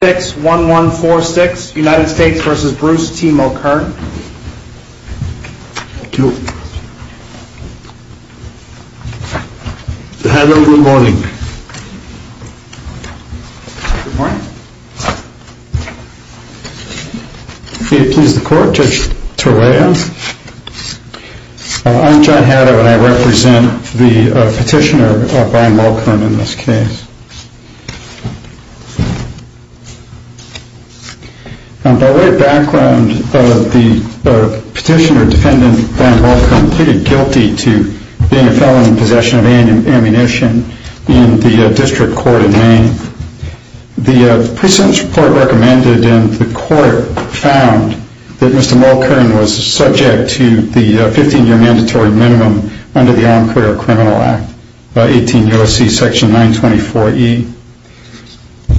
61146 United States v. Bruce T. Mulkern Thank you. Hello, good morning. Good morning. May it please the court, Judge Torea. I'm John Haddo and I represent the petitioner, Brian Mulkern in this case. By way of background, the petitioner defendant, Brian Mulkern, pleaded guilty to being a felon in possession of ammunition in the District Court in Maine. The pre-sentence report recommended in the court found that Mr. Mulkern was subject to the 15 year mandatory minimum under the Armed Career Criminal Act, 18 U.S.C. section 924E.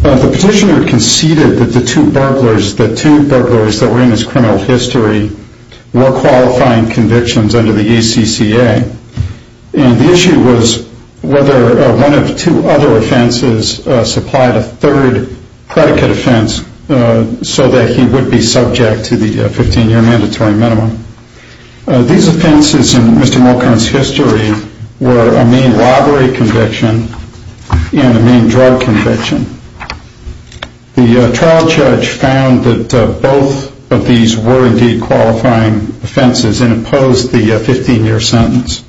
The petitioner conceded that the two burglars that were in his criminal history were qualifying convictions under the ACCA. The issue was whether one of two other offenses supplied a third predicate offense so that he would be subject to the 15 year mandatory minimum. These offenses in Mr. Mulkern's history were a Maine robbery conviction and a Maine drug conviction. The trial judge found that both of these were indeed qualifying offenses and opposed the 15 year sentence.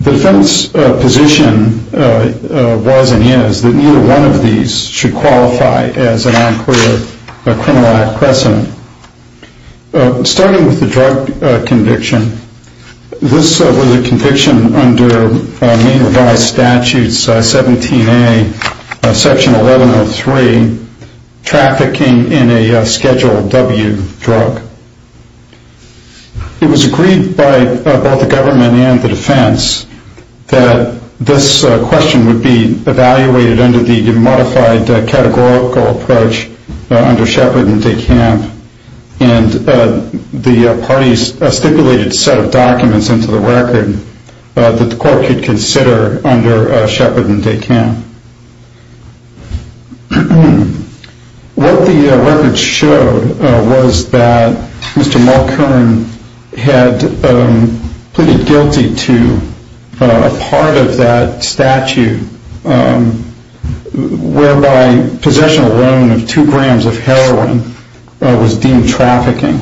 The defense position was and is that neither one of these should qualify as an Armed Career Criminal Act precedent. Starting with the drug conviction, this was a conviction under Maine revised statutes 17A section 1103 trafficking in a Schedule W drug. It was agreed by both the government and the defense that this question would be evaluated under the modified categorical approach under Shepard and DeCamp. The parties stipulated a set of documents into the record that the court could consider under Shepard and DeCamp. What the records showed was that Mr. Mulkern had pleaded guilty to a part of that statute whereby possession alone of two grams of heroin was deemed trafficking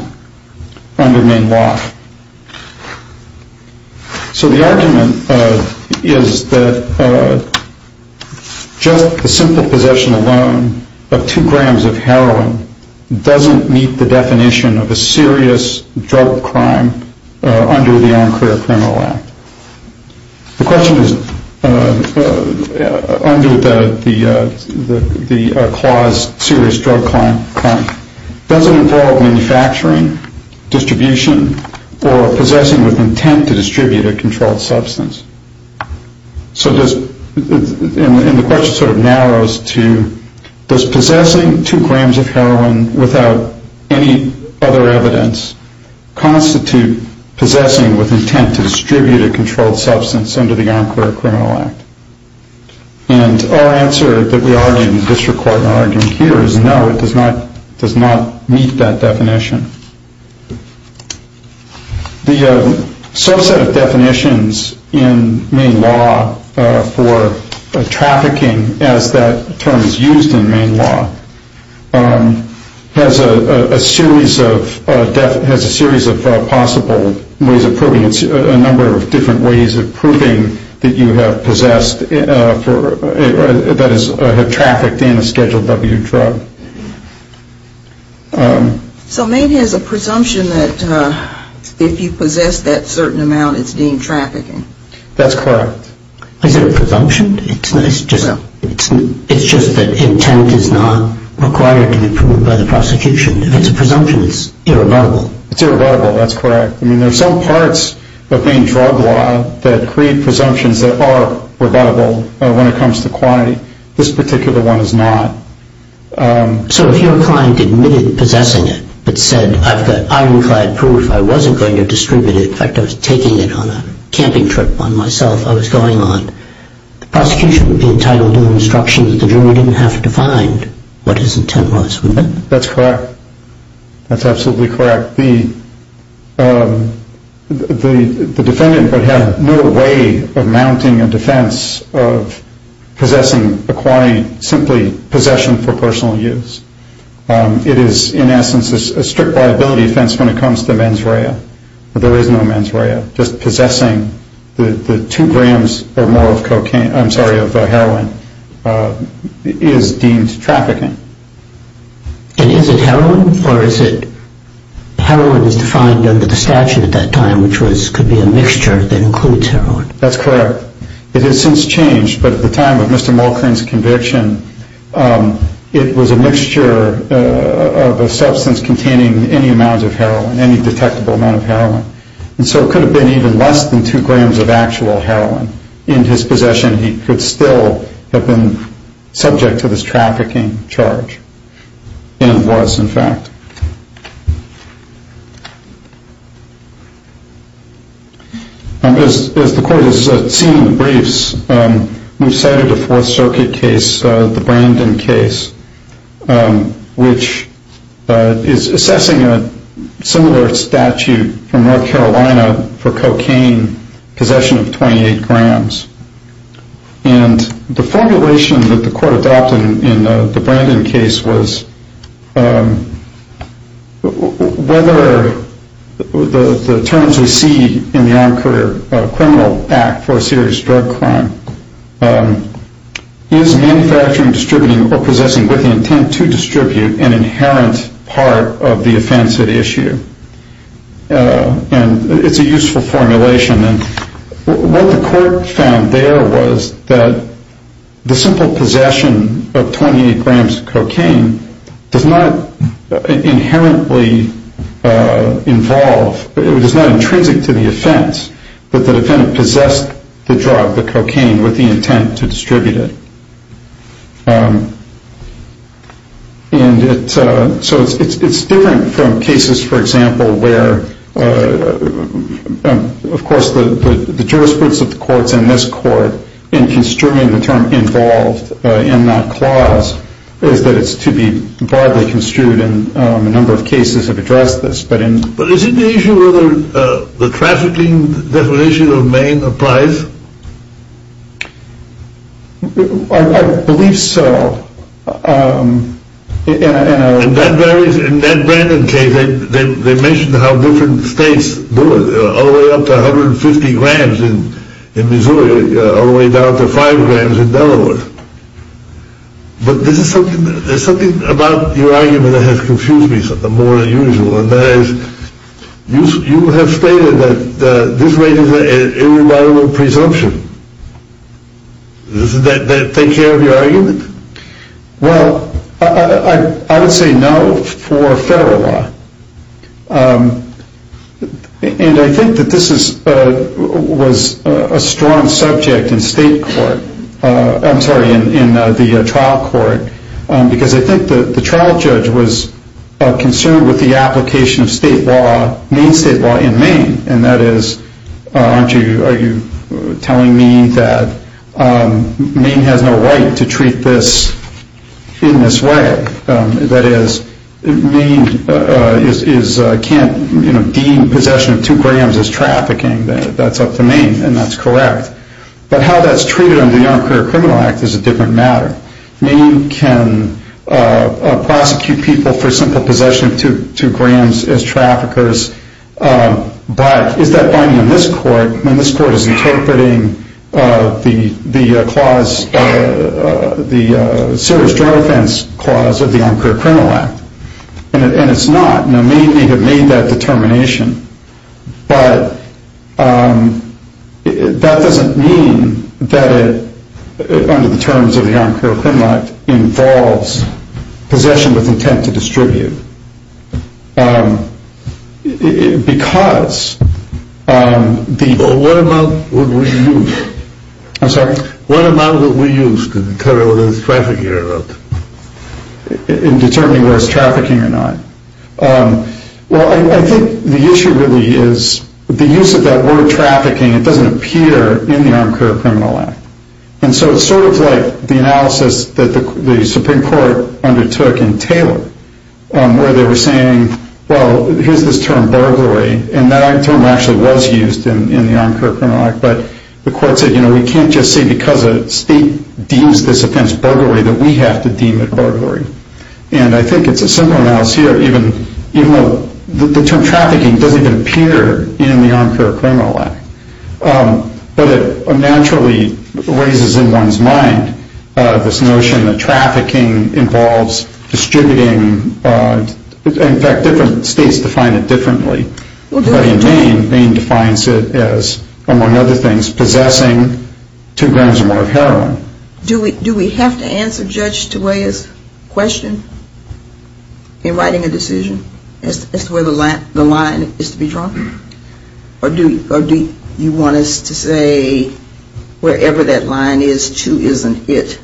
under Maine law. So the argument is that just the simple possession alone of two grams of heroin doesn't meet the definition of a serious drug crime under the Armed Career Criminal Act. The question is under the clause serious drug crime does it involve manufacturing, distribution, or possessing with intent to distribute a controlled substance? And the question sort of narrows to does possessing two grams of heroin without any other evidence constitute possessing with intent to distribute a controlled substance under the Armed Career Criminal Act? And our answer that we argue in the district court argument here is no, it does not meet that definition. The subset of definitions in Maine law for trafficking as that term is used in Maine law has a series of possible ways of proving a number of different ways of proving that you have possessed that is have trafficked in a Schedule W drug. So Maine has a presumption that if you possess that certain amount it's deemed trafficking? That's correct. Is it a presumption? It's just that intent is not required to be proved by the prosecution. If it's a presumption it's irrebuttable. It's irrebuttable, that's correct. There are some parts of Maine drug law that create presumptions that are rebuttable when it comes to quantity. This particular one is not. So if your client admitted possessing it but said I've got ironclad proof I wasn't going to distribute it in fact I was taking it on a camping trip on myself I was going on the prosecution would be entitled to the instruction that the jury didn't have to find what his intent was. That's correct, that's absolutely correct. The defendant would have no way of mounting a defense of possessing a quantity simply possession for personal use. It is in essence a strict liability offense when it comes to mens rea. There is no mens rea, just possessing the two grams or more of cocaine I'm sorry of heroin is deemed trafficking. And is it heroin or is it heroin is defined under the statute at that time which could be a mixture that includes heroin? That's correct. It has since changed but at the time of Mr. Malkrin's conviction it was a mixture of a substance containing any amount of heroin, any detectable amount of heroin. So it could have been even less than two grams of actual heroin. In his possession he could still have been subject to this trafficking charge. And was in fact. As the court has seen in the briefs we've cited a Fourth Circuit case, the Brandon case, which is assessing a similar statute from North Carolina for cocaine possession of 28 grams. And the formulation that the court adopted in the Brandon case was whether the terms we see in the is manufacturing, distributing or possessing with the intent to distribute an inherent part of the offense at issue. And it's a useful formulation. What the court found there was that the simple possession of 28 grams of cocaine does not inherently involve, it is not intrinsic to the offense that the defendant possessed the drug, the cocaine, with the intent to distribute it. And so it's different from cases, for example, where of course the jurisprudence of the courts in this court in construing the term involved in that clause is that it's to be broadly construed in a number of cases But isn't the issue whether the trafficking definition of Maine applies? I believe so. And that varies in that Brandon case. They mentioned how different states do it all the way up to 150 grams in Missouri all the way down to five grams in Delaware. But there's something about your argument that has confused me more than usual. And that is, you have stated that this raises an irrevocable presumption. Does that take care of your argument? Well, I would say no for federal law. And I think that this was a strong subject in the trial court because I think the trial judge was concerned with the application of Maine state law in Maine. And that is, are you telling me that Maine has no right to treat this in this way? That is, Maine can't deem possession of two grams as trafficking. That's up to Maine. And that's correct. But how that's treated under the Armed Career Criminal Act is a different matter. Maine can prosecute people for simple possession of two grams as traffickers. But is that binding in this court? And this court is interpreting the clause, the serious drug offense clause of the Armed Career Criminal Act. And it's not. Now, Maine may have made that determination. But that doesn't mean that it, under the terms of the Armed Career Criminal Act, involves possession with intent to distribute. Because... What amount would we use to determine whether it's trafficking or not? In determining whether it's trafficking or not? Well, I think the issue really is the use of that word trafficking, it doesn't appear in the Armed Career Criminal Act. And so it's sort of like the analysis that the Supreme Court undertook in Taylor, where they were saying, well, here's this term burglary, and that term actually was used in the Armed Career Criminal Act, but the court said, you know, we can't just say because a state deems this offense burglary that we have to deem it burglary. And I think it's a simple analysis here, even though the term trafficking doesn't even appear in the Armed Career Criminal Act. But it naturally raises in one's mind this notion that trafficking involves distributing, in fact, different states define it differently. But in Maine, Maine defines it as, among other things, possessing two grams or more of heroin. Do we have to answer Judge Tobias' question in writing a decision as to where the line is to be drawn? Or do you want us to say wherever that line is, two isn't it?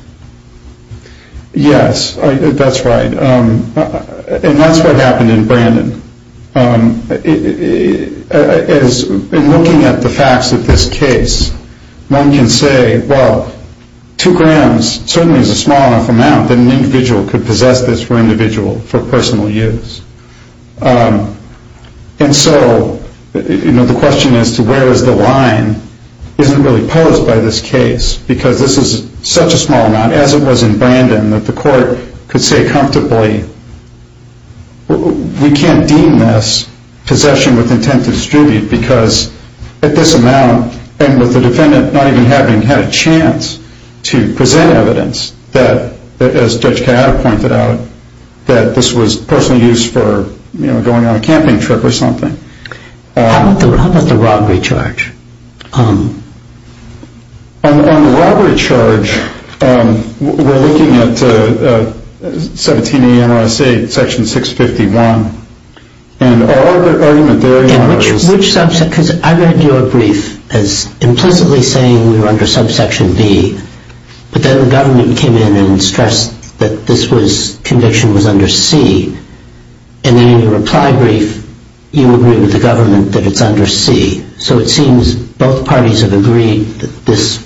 Yes, that's right. And that's what happened in Brandon. In looking at the facts of this case, one can say, well, two grams certainly is a small enough amount that an individual could possess this for individual, for personal use. And so, you know, the question as to where is the line isn't really posed by this case, because this is such a small amount, as it was in Brandon, that the court could say comfortably, we can't deem this possession with intent to distribute, because at this amount, and with the defendant not even having had a chance to present evidence that, as Judge Kayada pointed out, that this was personal use for, you know, going on a camping trip or something. How about the robbery charge? On the robbery charge, we're looking at 17 A.N.R.S. 8, Section 651, because I read your brief as implicitly saying we were under Subsection B, but then the government came in and stressed that this conviction was under C. And in your reply brief, you agree with the government that it's under C. So it seems both parties have agreed that this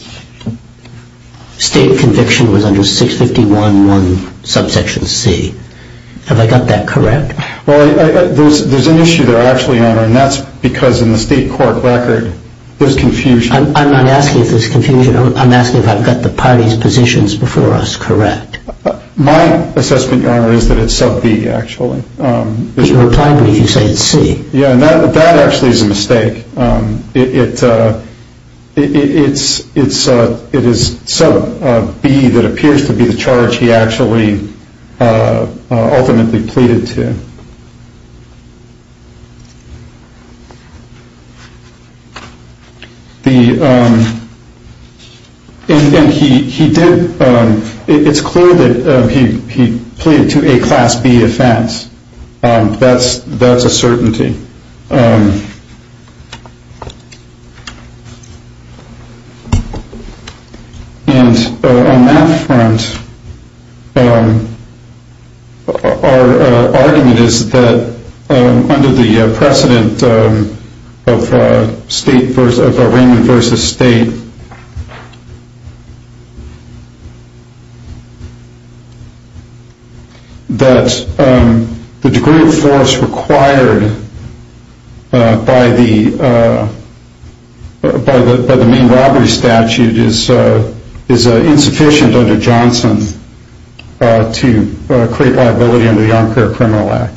state conviction was under 651.1, Subsection C. Have I got that correct? Well, there's an issue there, Your Honor, and that's because in the state court record, there's confusion. I'm not asking if there's confusion. I'm asking if I've got the parties' positions before us correct. My assessment, Your Honor, is that it's Sub B, actually. In your reply brief, you say it's C. Yeah, and that actually is a mistake. It is Sub B that appears to be the charge he actually ultimately pleaded to. It's clear that he pleaded to a Class B offense. That's a certainty. And on that front, our argument is that under the precedent of Raymond v. State, that the degree of force required by the main robbery statute is insufficient under Johnson to create liability under the Armed Care Criminal Act.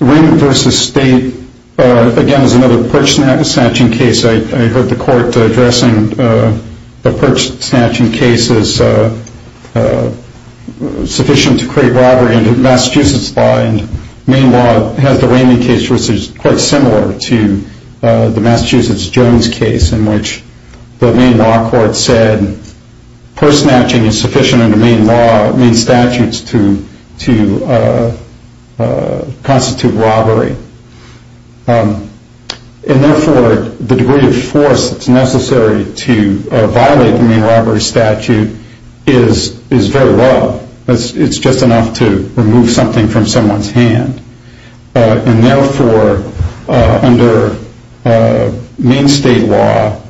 Raymond v. State, again, is another perch snatching case. I heard the court addressing the perch snatching case as sufficient to create robbery under Massachusetts law. And Maine law has the Raymond case, which is quite similar to the Massachusetts Jones case, in which the Maine law court said perch snatching is sufficient under Maine law, Maine statutes, to constitute robbery. And therefore, the degree of force that's necessary to violate the Maine robbery statute is very low. It's just enough to remove something from someone's hand. And therefore, under Maine state law,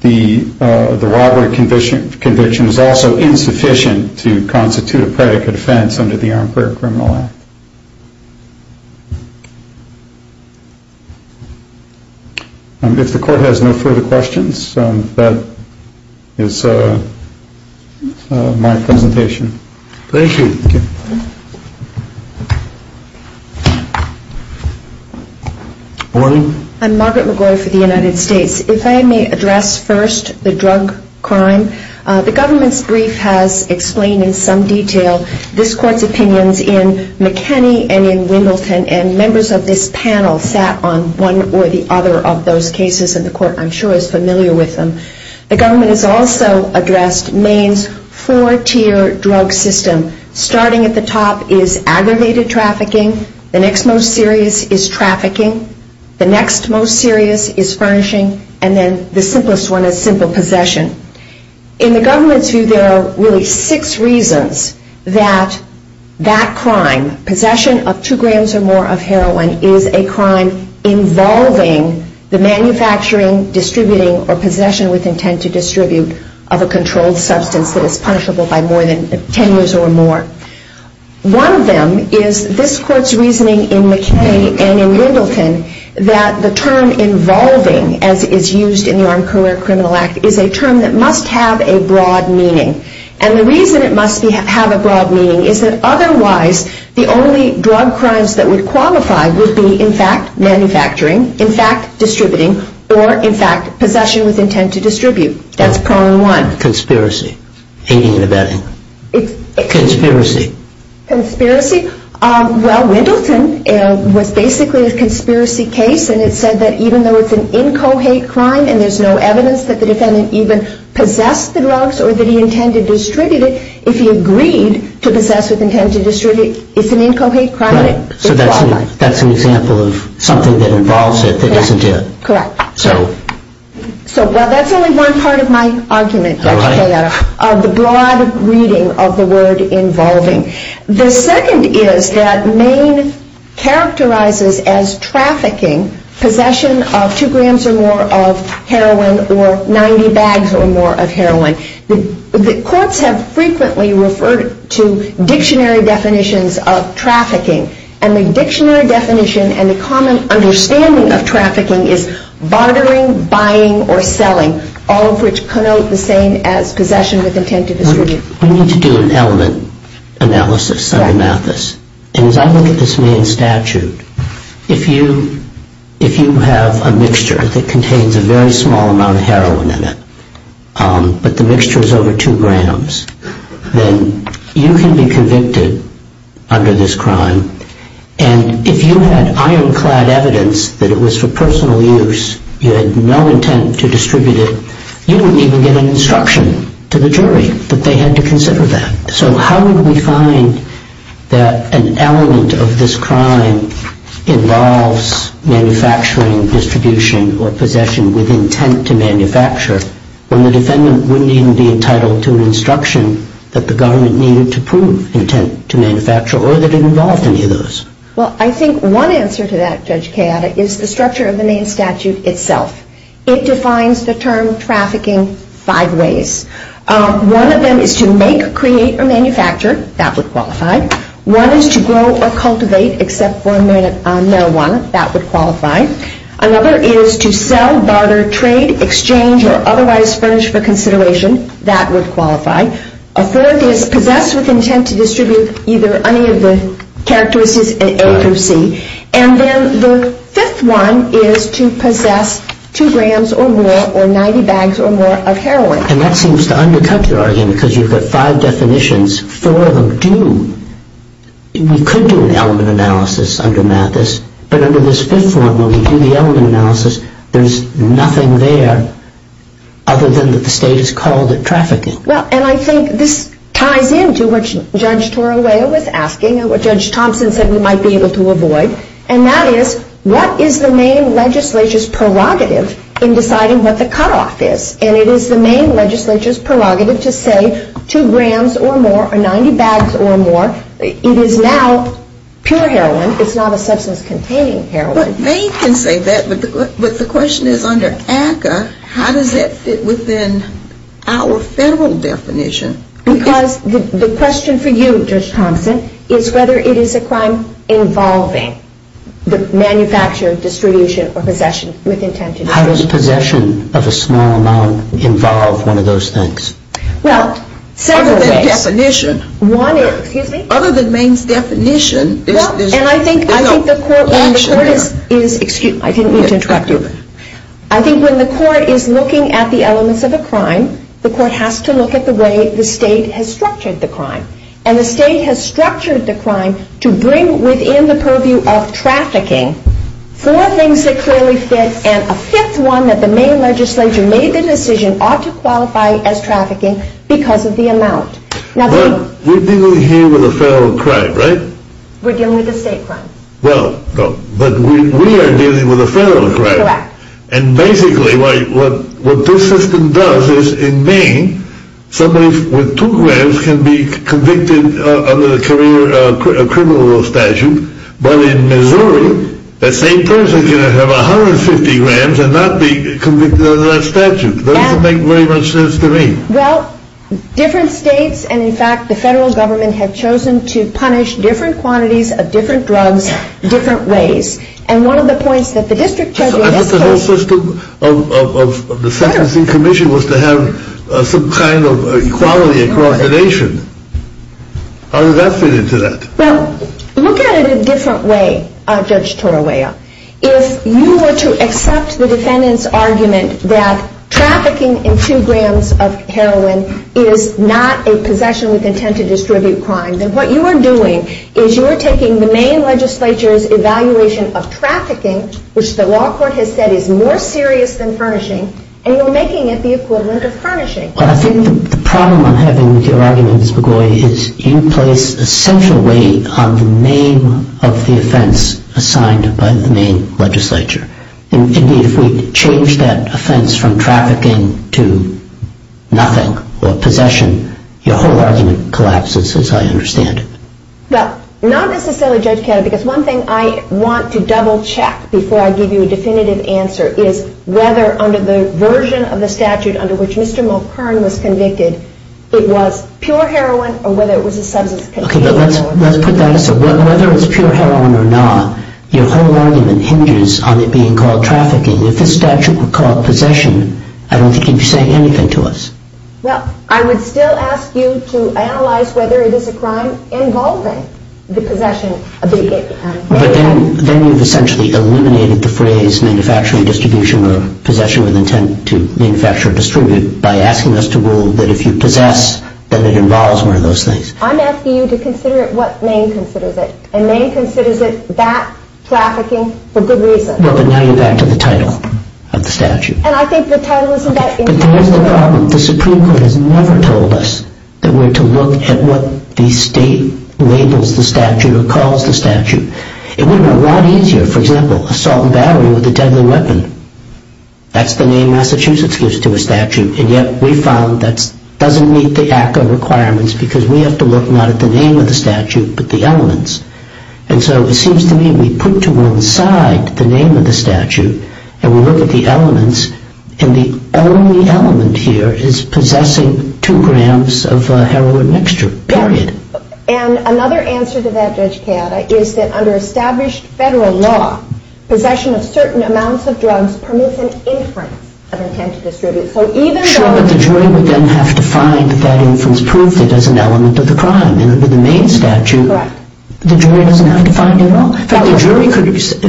the robbery conviction is also insufficient to constitute a predicate offense. If the court has no further questions, that is my presentation. Thank you. I'm Margaret McGoy for the United States. If I may address first the drug crime. The government's brief has explained in some detail this court's opinions in McKinney and in Wimbledon, and members of this panel sat on one or the other of those cases, and the court, I'm sure, is familiar with them. The government has also addressed Maine's four-tier drug system. Starting at the top is aggravated trafficking. The next most serious is trafficking. The next most serious is furnishing. And then the simplest one is simple possession. In the government's view, there are really six reasons that that crime, possession of two grams or more of heroin, is a crime involving the manufacturing, distributing, or possession with intent to distribute of a controlled substance that is punishable by more than 10 years or more. One of them is this court's reasoning in McKinney and in Wimbledon that the term involving, as is used in the Armed Career Criminal Act, is a term that must have a broad meaning. And the reason it must have a broad meaning is that otherwise the only drug crimes that would qualify would be, in fact, manufacturing, in fact, distributing, or, in fact, possession with intent to distribute. That's problem one. Conspiracy. Well, Wimbledon was basically a conspiracy case, and it said that even though it's an incohate crime and there's no evidence that the defendant even possessed the drugs or that he intended to distribute it, if he agreed to possess with intent to distribute, it's an incohate crime. So that's an example of something that involves it that doesn't do it. Correct. So that's only one part of my argument of the broad reading of the word involving. The second is that Maine characterizes as trafficking possession of two grams or more of heroin or 90 bags or more of heroin. The courts have frequently referred to dictionary definitions of trafficking, and the dictionary definition and the common understanding of trafficking is bartering, buying, or selling, all of which connote the same as possession with intent to distribute. We need to do an element analysis of Amathus. And as I look at this Maine statute, if you have a mixture that contains a very small amount of heroin in it, but the mixture is over two grams, then you can be convicted under this crime. And if you had ironclad evidence that it was for personal use, you had no intent to distribute it, you wouldn't even get an instruction to the jury that they had to consider that. So how would we find that an element of this crime involves manufacturing, distribution, or possession with intent to manufacture, when the defendant wouldn't even be entitled to an instruction that the government needed to prove intent to manufacture or that it involved any of those? Well, I think one answer to that, Judge Kayada, is the structure of the Maine statute itself. It defines the term trafficking five ways. One of them is to make, create, or manufacture. That would qualify. One is to grow or cultivate, except for marijuana. That would qualify. Another is to sell, barter, trade, exchange, or otherwise furnish for consideration. That would qualify. A third is possessed with intent to distribute either any of the characteristics A through C. And then the fifth one is to possess two grams or more or 90 bags or more of heroin. And that seems to undercut your argument because you've got five definitions. Four of them do. We could do an element analysis under Mathis, but under this fifth one, when we do the element analysis, there's nothing there other than that the state has called it trafficking. Well, and I think this ties into what Judge Torrella was asking and what Judge Thompson said we might be able to avoid, and that is what is the Maine legislature's prerogative in deciding what the cutoff is? And it is the Maine legislature's prerogative to say two grams or more or 90 bags or more. It is now pure heroin. It's not a substance containing heroin. But Maine can say that, but the question is under ACCA, how does that fit within our federal definition? Because the question for you, Judge Thompson, is whether it is a crime involving the manufacture, distribution, or possession with intent to distribute. How does possession of a small amount involve one of those things? Well, several ways. One is, excuse me? Other than Maine's definition. I think when the court is looking at the elements of a crime, the court has to look at the way the state has structured the crime. And the state has structured the crime to bring within the purview of trafficking four things that clearly fit, and a fifth one that the Maine legislature made the decision ought to qualify as trafficking because of the amount. We're dealing here with a federal crime, right? We're dealing with a state crime. But we are dealing with a federal crime. And basically what this system does is in Maine, somebody with two grams can be convicted under the criminal statute. But in Missouri, that same person can have 150 grams and not be convicted under that statute. That doesn't make very much sense to me. Well, different states and in fact the federal government have chosen to punish different quantities of different drugs, different ways. And one of the points that the district treasurer... I thought the whole system of the sentencing commission was to have some kind of equality across the nation. How does that fit into that? Well, look at it a different way, Judge Torawaya. If you were to accept the defendant's argument that trafficking in two grams of heroin is not a possession with intent to distribute crime, then what you are doing is you are taking the Maine legislature's evaluation of trafficking, which the law court has said is more serious than furnishing, and you're making it the equivalent of furnishing. Well, I think the problem I'm having with your argument, Ms. McGoy, is you place a central weight on the name of the offense assigned by the Maine legislature. Indeed, if we change that offense from trafficking to nothing or possession, your whole argument collapses, as I understand it. Well, not necessarily, Judge Ketter, because one thing I want to double check before I give you a definitive answer is whether under the version of the statute under which Mr. Mulhern was convicted, it was pure heroin or whether it was a substance contained... Okay, but let's put that aside. Whether it's pure heroin or not, your whole argument hinges on it being called trafficking. If the statute were called possession, I don't think you'd be saying anything to us. Well, I would still ask you to analyze whether it is a crime involving the possession... But then you've essentially eliminated the phrase manufacturing distribution or possession with intent to manufacture or distribute it by asking us to rule that if you possess, then it involves one of those things. I'm asking you to consider it what Maine considers it, and Maine considers it that trafficking for good reason. Well, but now you're back to the title of the statute. And I think the title isn't that important... But there is the problem. The Supreme Court has never told us that we're to look at what the state labels the statute or calls the statute. It would have been a lot easier, for example, assault and battery with a deadly weapon. That's the name Massachusetts gives to a statute, and yet we found that doesn't meet the ACCA requirements because we have to look not at the name of the statute but the elements. And so it seems to me we put to one side the name of the statute and we look at the elements, and the only element here is possessing two grams of heroin mixture, period. And another answer to that, Judge Chiata, is that under established federal law, possession of certain amounts of drugs permits an inference of intent to distribute. Sure, but the jury would then have to find that that inference proved it as an element of the crime. And under the main statute, the jury doesn't have to find it at all. If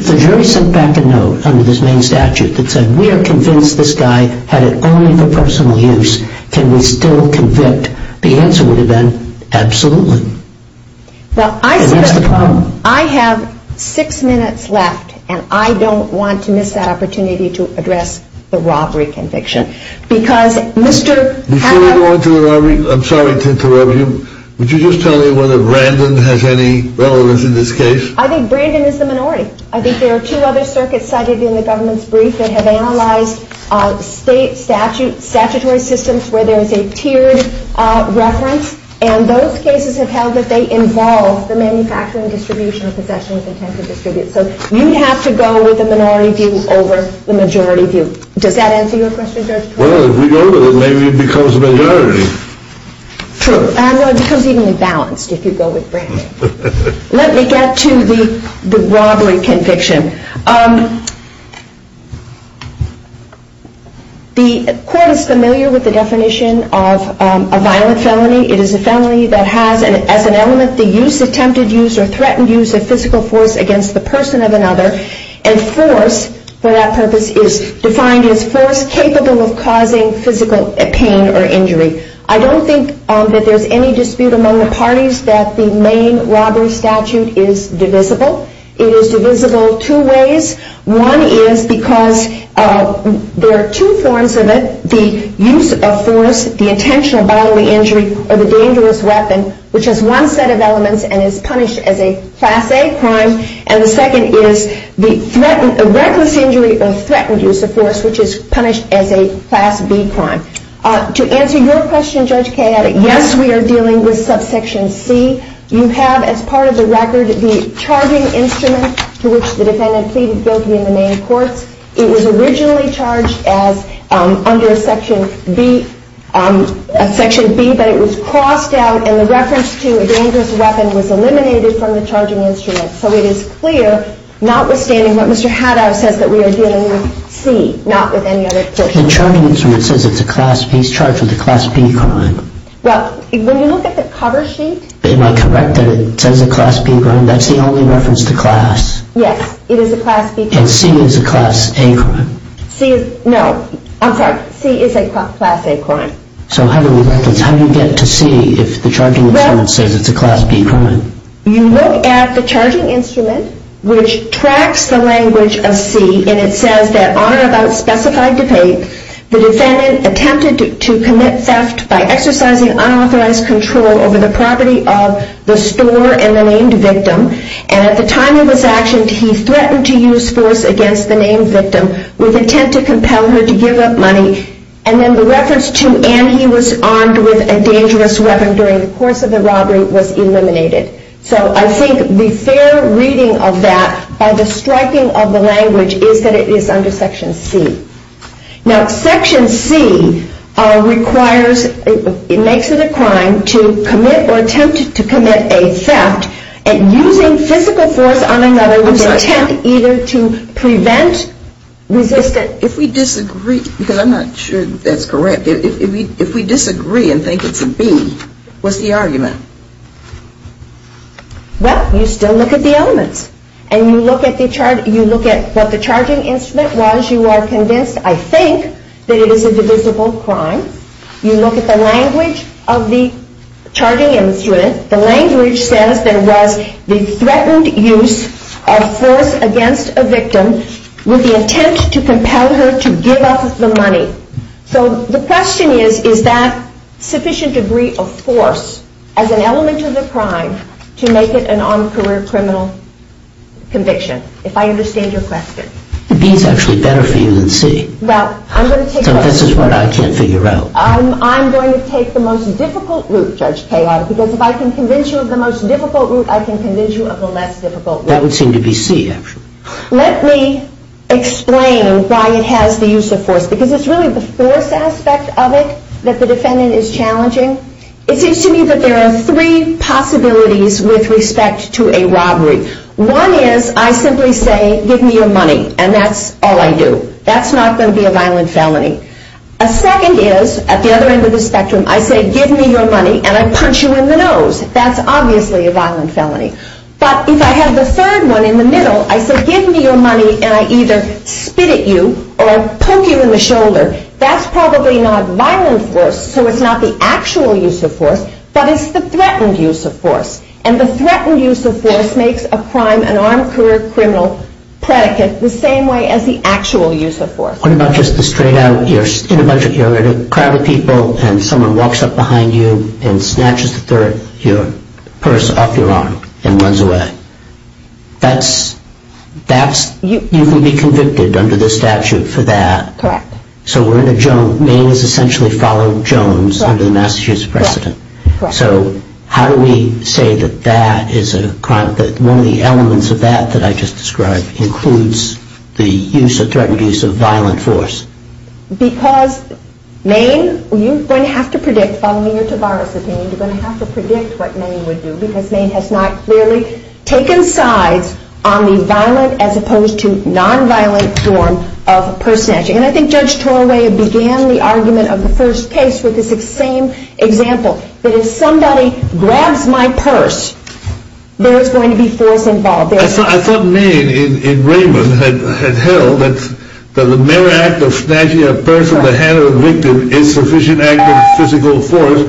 the jury sent back a note under this main statute that said we are convinced this guy had it only for personal use, can we still convict, the answer would have been absolutely. And that's the problem. I have six minutes left, and I don't want to miss that opportunity to address the robbery conviction. Before we go on to the robbery, I'm sorry to interrupt you. Would you just tell me whether Brandon has any relevance in this case? I think Brandon is the minority. I think there are two other circuits cited in the government's brief that have analyzed state statutory systems where there is a tiered reference, and those cases have held that they involve the manufacturing distribution or possession of intent to distribute. So you have to go with the minority view over the majority view. Does that answer your question, Judge? Well, if we go with it, maybe it becomes a majority. True. Well, it becomes evenly balanced if you go with Brandon. Let me get to the robbery conviction. The court is familiar with the definition of a violent felony. It is a felony that has as an element the use, attempted use, or threatened use of physical force against the person of another, and force for that purpose is defined as force capable of causing physical pain or injury. I don't think that there's any dispute among the parties that the main robbery statute is divisible. It is divisible two ways. One is because there are two forms of it, the use of force, the intentional bodily injury, or the dangerous weapon, which has one set of elements and is punished as a Class A crime, and the second is the reckless injury or threatened use of force, which is punished as a Class B crime. To answer your question, Judge Kayette, yes, we are dealing with subsection C. You have, as part of the record, the charging instrument to which the defendant pleaded guilty in the main courts. It was originally charged as under Section B, but it was crossed out, and the reference to a dangerous weapon was eliminated from the charging instrument. So it is clear, notwithstanding what Mr. Haddow says, that we are dealing with C, not with any other portion. The charging instrument says it's a Class B. It's charged with a Class B crime. Well, when you look at the cover sheet... Am I correct that it says a Class B crime? That's the only reference to Class? Yes, it is a Class B crime. And C is a Class A crime? No, I'm sorry. C is a Class A crime. So how do you get to C if the charging instrument says it's a Class B crime? You look at the charging instrument, which tracks the language of C, and it says that on or about specified debate, the defendant attempted to commit theft by exercising unauthorized control over the property of the store and the named victim, and at the time it was actioned, he threatened to use force against the named victim with intent to compel her to give up money, and then the reference to, and he was armed with a dangerous weapon during the course of the robbery was eliminated. So I think the fair reading of that by the striking of the language is that it is under Section C. Now, Section C requires... I'm sorry. If we disagree, because I'm not sure that's correct. If we disagree and think it's a B, what's the argument? Well, you still look at the elements, and you look at what the charging instrument was. You are convinced, I think, that it is a divisible crime. You look at the language of the charging instrument. The language says there was the threatened use of force against a victim with the intent to compel her to give up the money. So the question is, is that sufficient degree of force as an element of the crime to make it an armed career criminal conviction, if I understand your question? B is actually better for you than C. So this is what I can't figure out. I'm going to take the most difficult route, Judge Kaye, because if I can convince you of the most difficult route, I can convince you of the less difficult route. That would seem to be C, actually. Let me explain why it has the use of force, because it's really the force aspect of it that the defendant is challenging. It seems to me that there are three possibilities with respect to a robbery. One is I simply say, give me your money, and that's all I do. That's not going to be a violent felony. A second is, at the other end of the spectrum, I say, give me your money, and I punch you in the nose. That's obviously a violent felony. But if I have the third one in the middle, I say, give me your money, and I either spit at you or poke you in the shoulder, that's probably not violent force, so it's not the actual use of force, but it's the threatened use of force. And the threatened use of force makes a crime, an armed career criminal, predicate the same way as the actual use of force. What about just the straight out, you're in a bunch of crowded people, and someone walks up behind you and snatches your purse off your arm and runs away? You can be convicted under the statute for that. Correct. So we're in a joke, Maine has essentially followed Jones under the Massachusetts precedent. So how do we say that that is a crime, that one of the elements of that that I just described includes the use of threatened use of violent force? Because Maine, you're going to have to predict, following your Tavares opinion, you're going to have to predict what Maine would do, because Maine has not clearly taken sides on the violent as opposed to nonviolent form of purse snatching. And I think Judge Torway began the argument of the first case with this same example, that if somebody grabs my purse, there is going to be force involved. I thought Maine in Raymond had held that the mere act of snatching a purse from the hand of a victim is sufficient act of physical force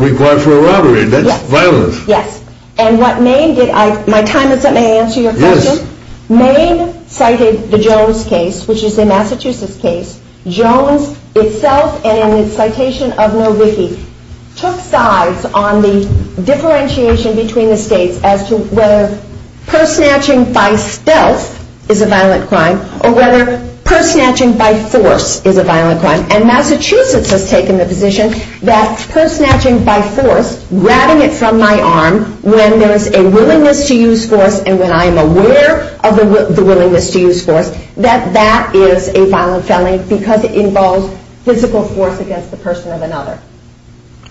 required for a robbery. That's violence. Yes, and what Maine did, my time is up, may I answer your question? Yes. Maine cited the Jones case, which is a Massachusetts case. Jones itself and in its citation of Milwaukee took sides on the differentiation between the states as to whether purse snatching by stealth is a violent crime or whether purse snatching by force is a violent crime. And Massachusetts has taken the position that purse snatching by force, grabbing it from my arm when there is a willingness to use force and when I am aware of the willingness to use force, that that is a violent felony because it involves physical force against the person or another.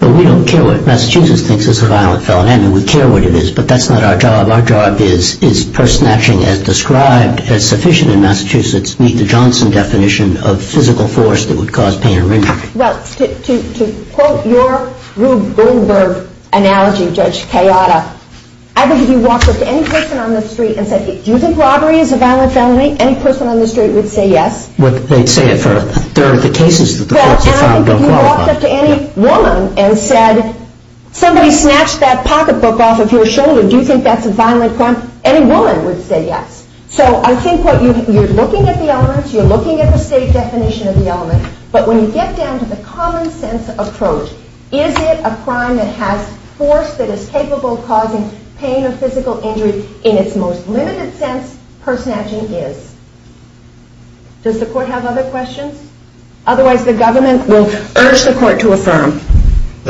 But we don't care what Massachusetts thinks is a violent felony. I mean, we care what it is, but that's not our job. Our job is purse snatching as described as sufficient in Massachusetts meet the Johnson definition of physical force that would cause pain or injury. Well, to quote your Rube Goldberg analogy, Judge Kayada, I believe you walked up to any person on the street and said, do you think robbery is a violent felony? Any person on the street would say yes. You walked up to any woman and said, somebody snatched that pocketbook off of your shoulder, do you think that's a violent crime? Any woman would say yes. So I think you're looking at the elements, you're looking at the state definition of the element, but when you get down to the common sense approach, is it a crime that has force that is capable of causing pain or physical injury? In its most limited sense, purse snatching is. Does the court have other questions? Otherwise the government will urge the court to affirm. Thank you.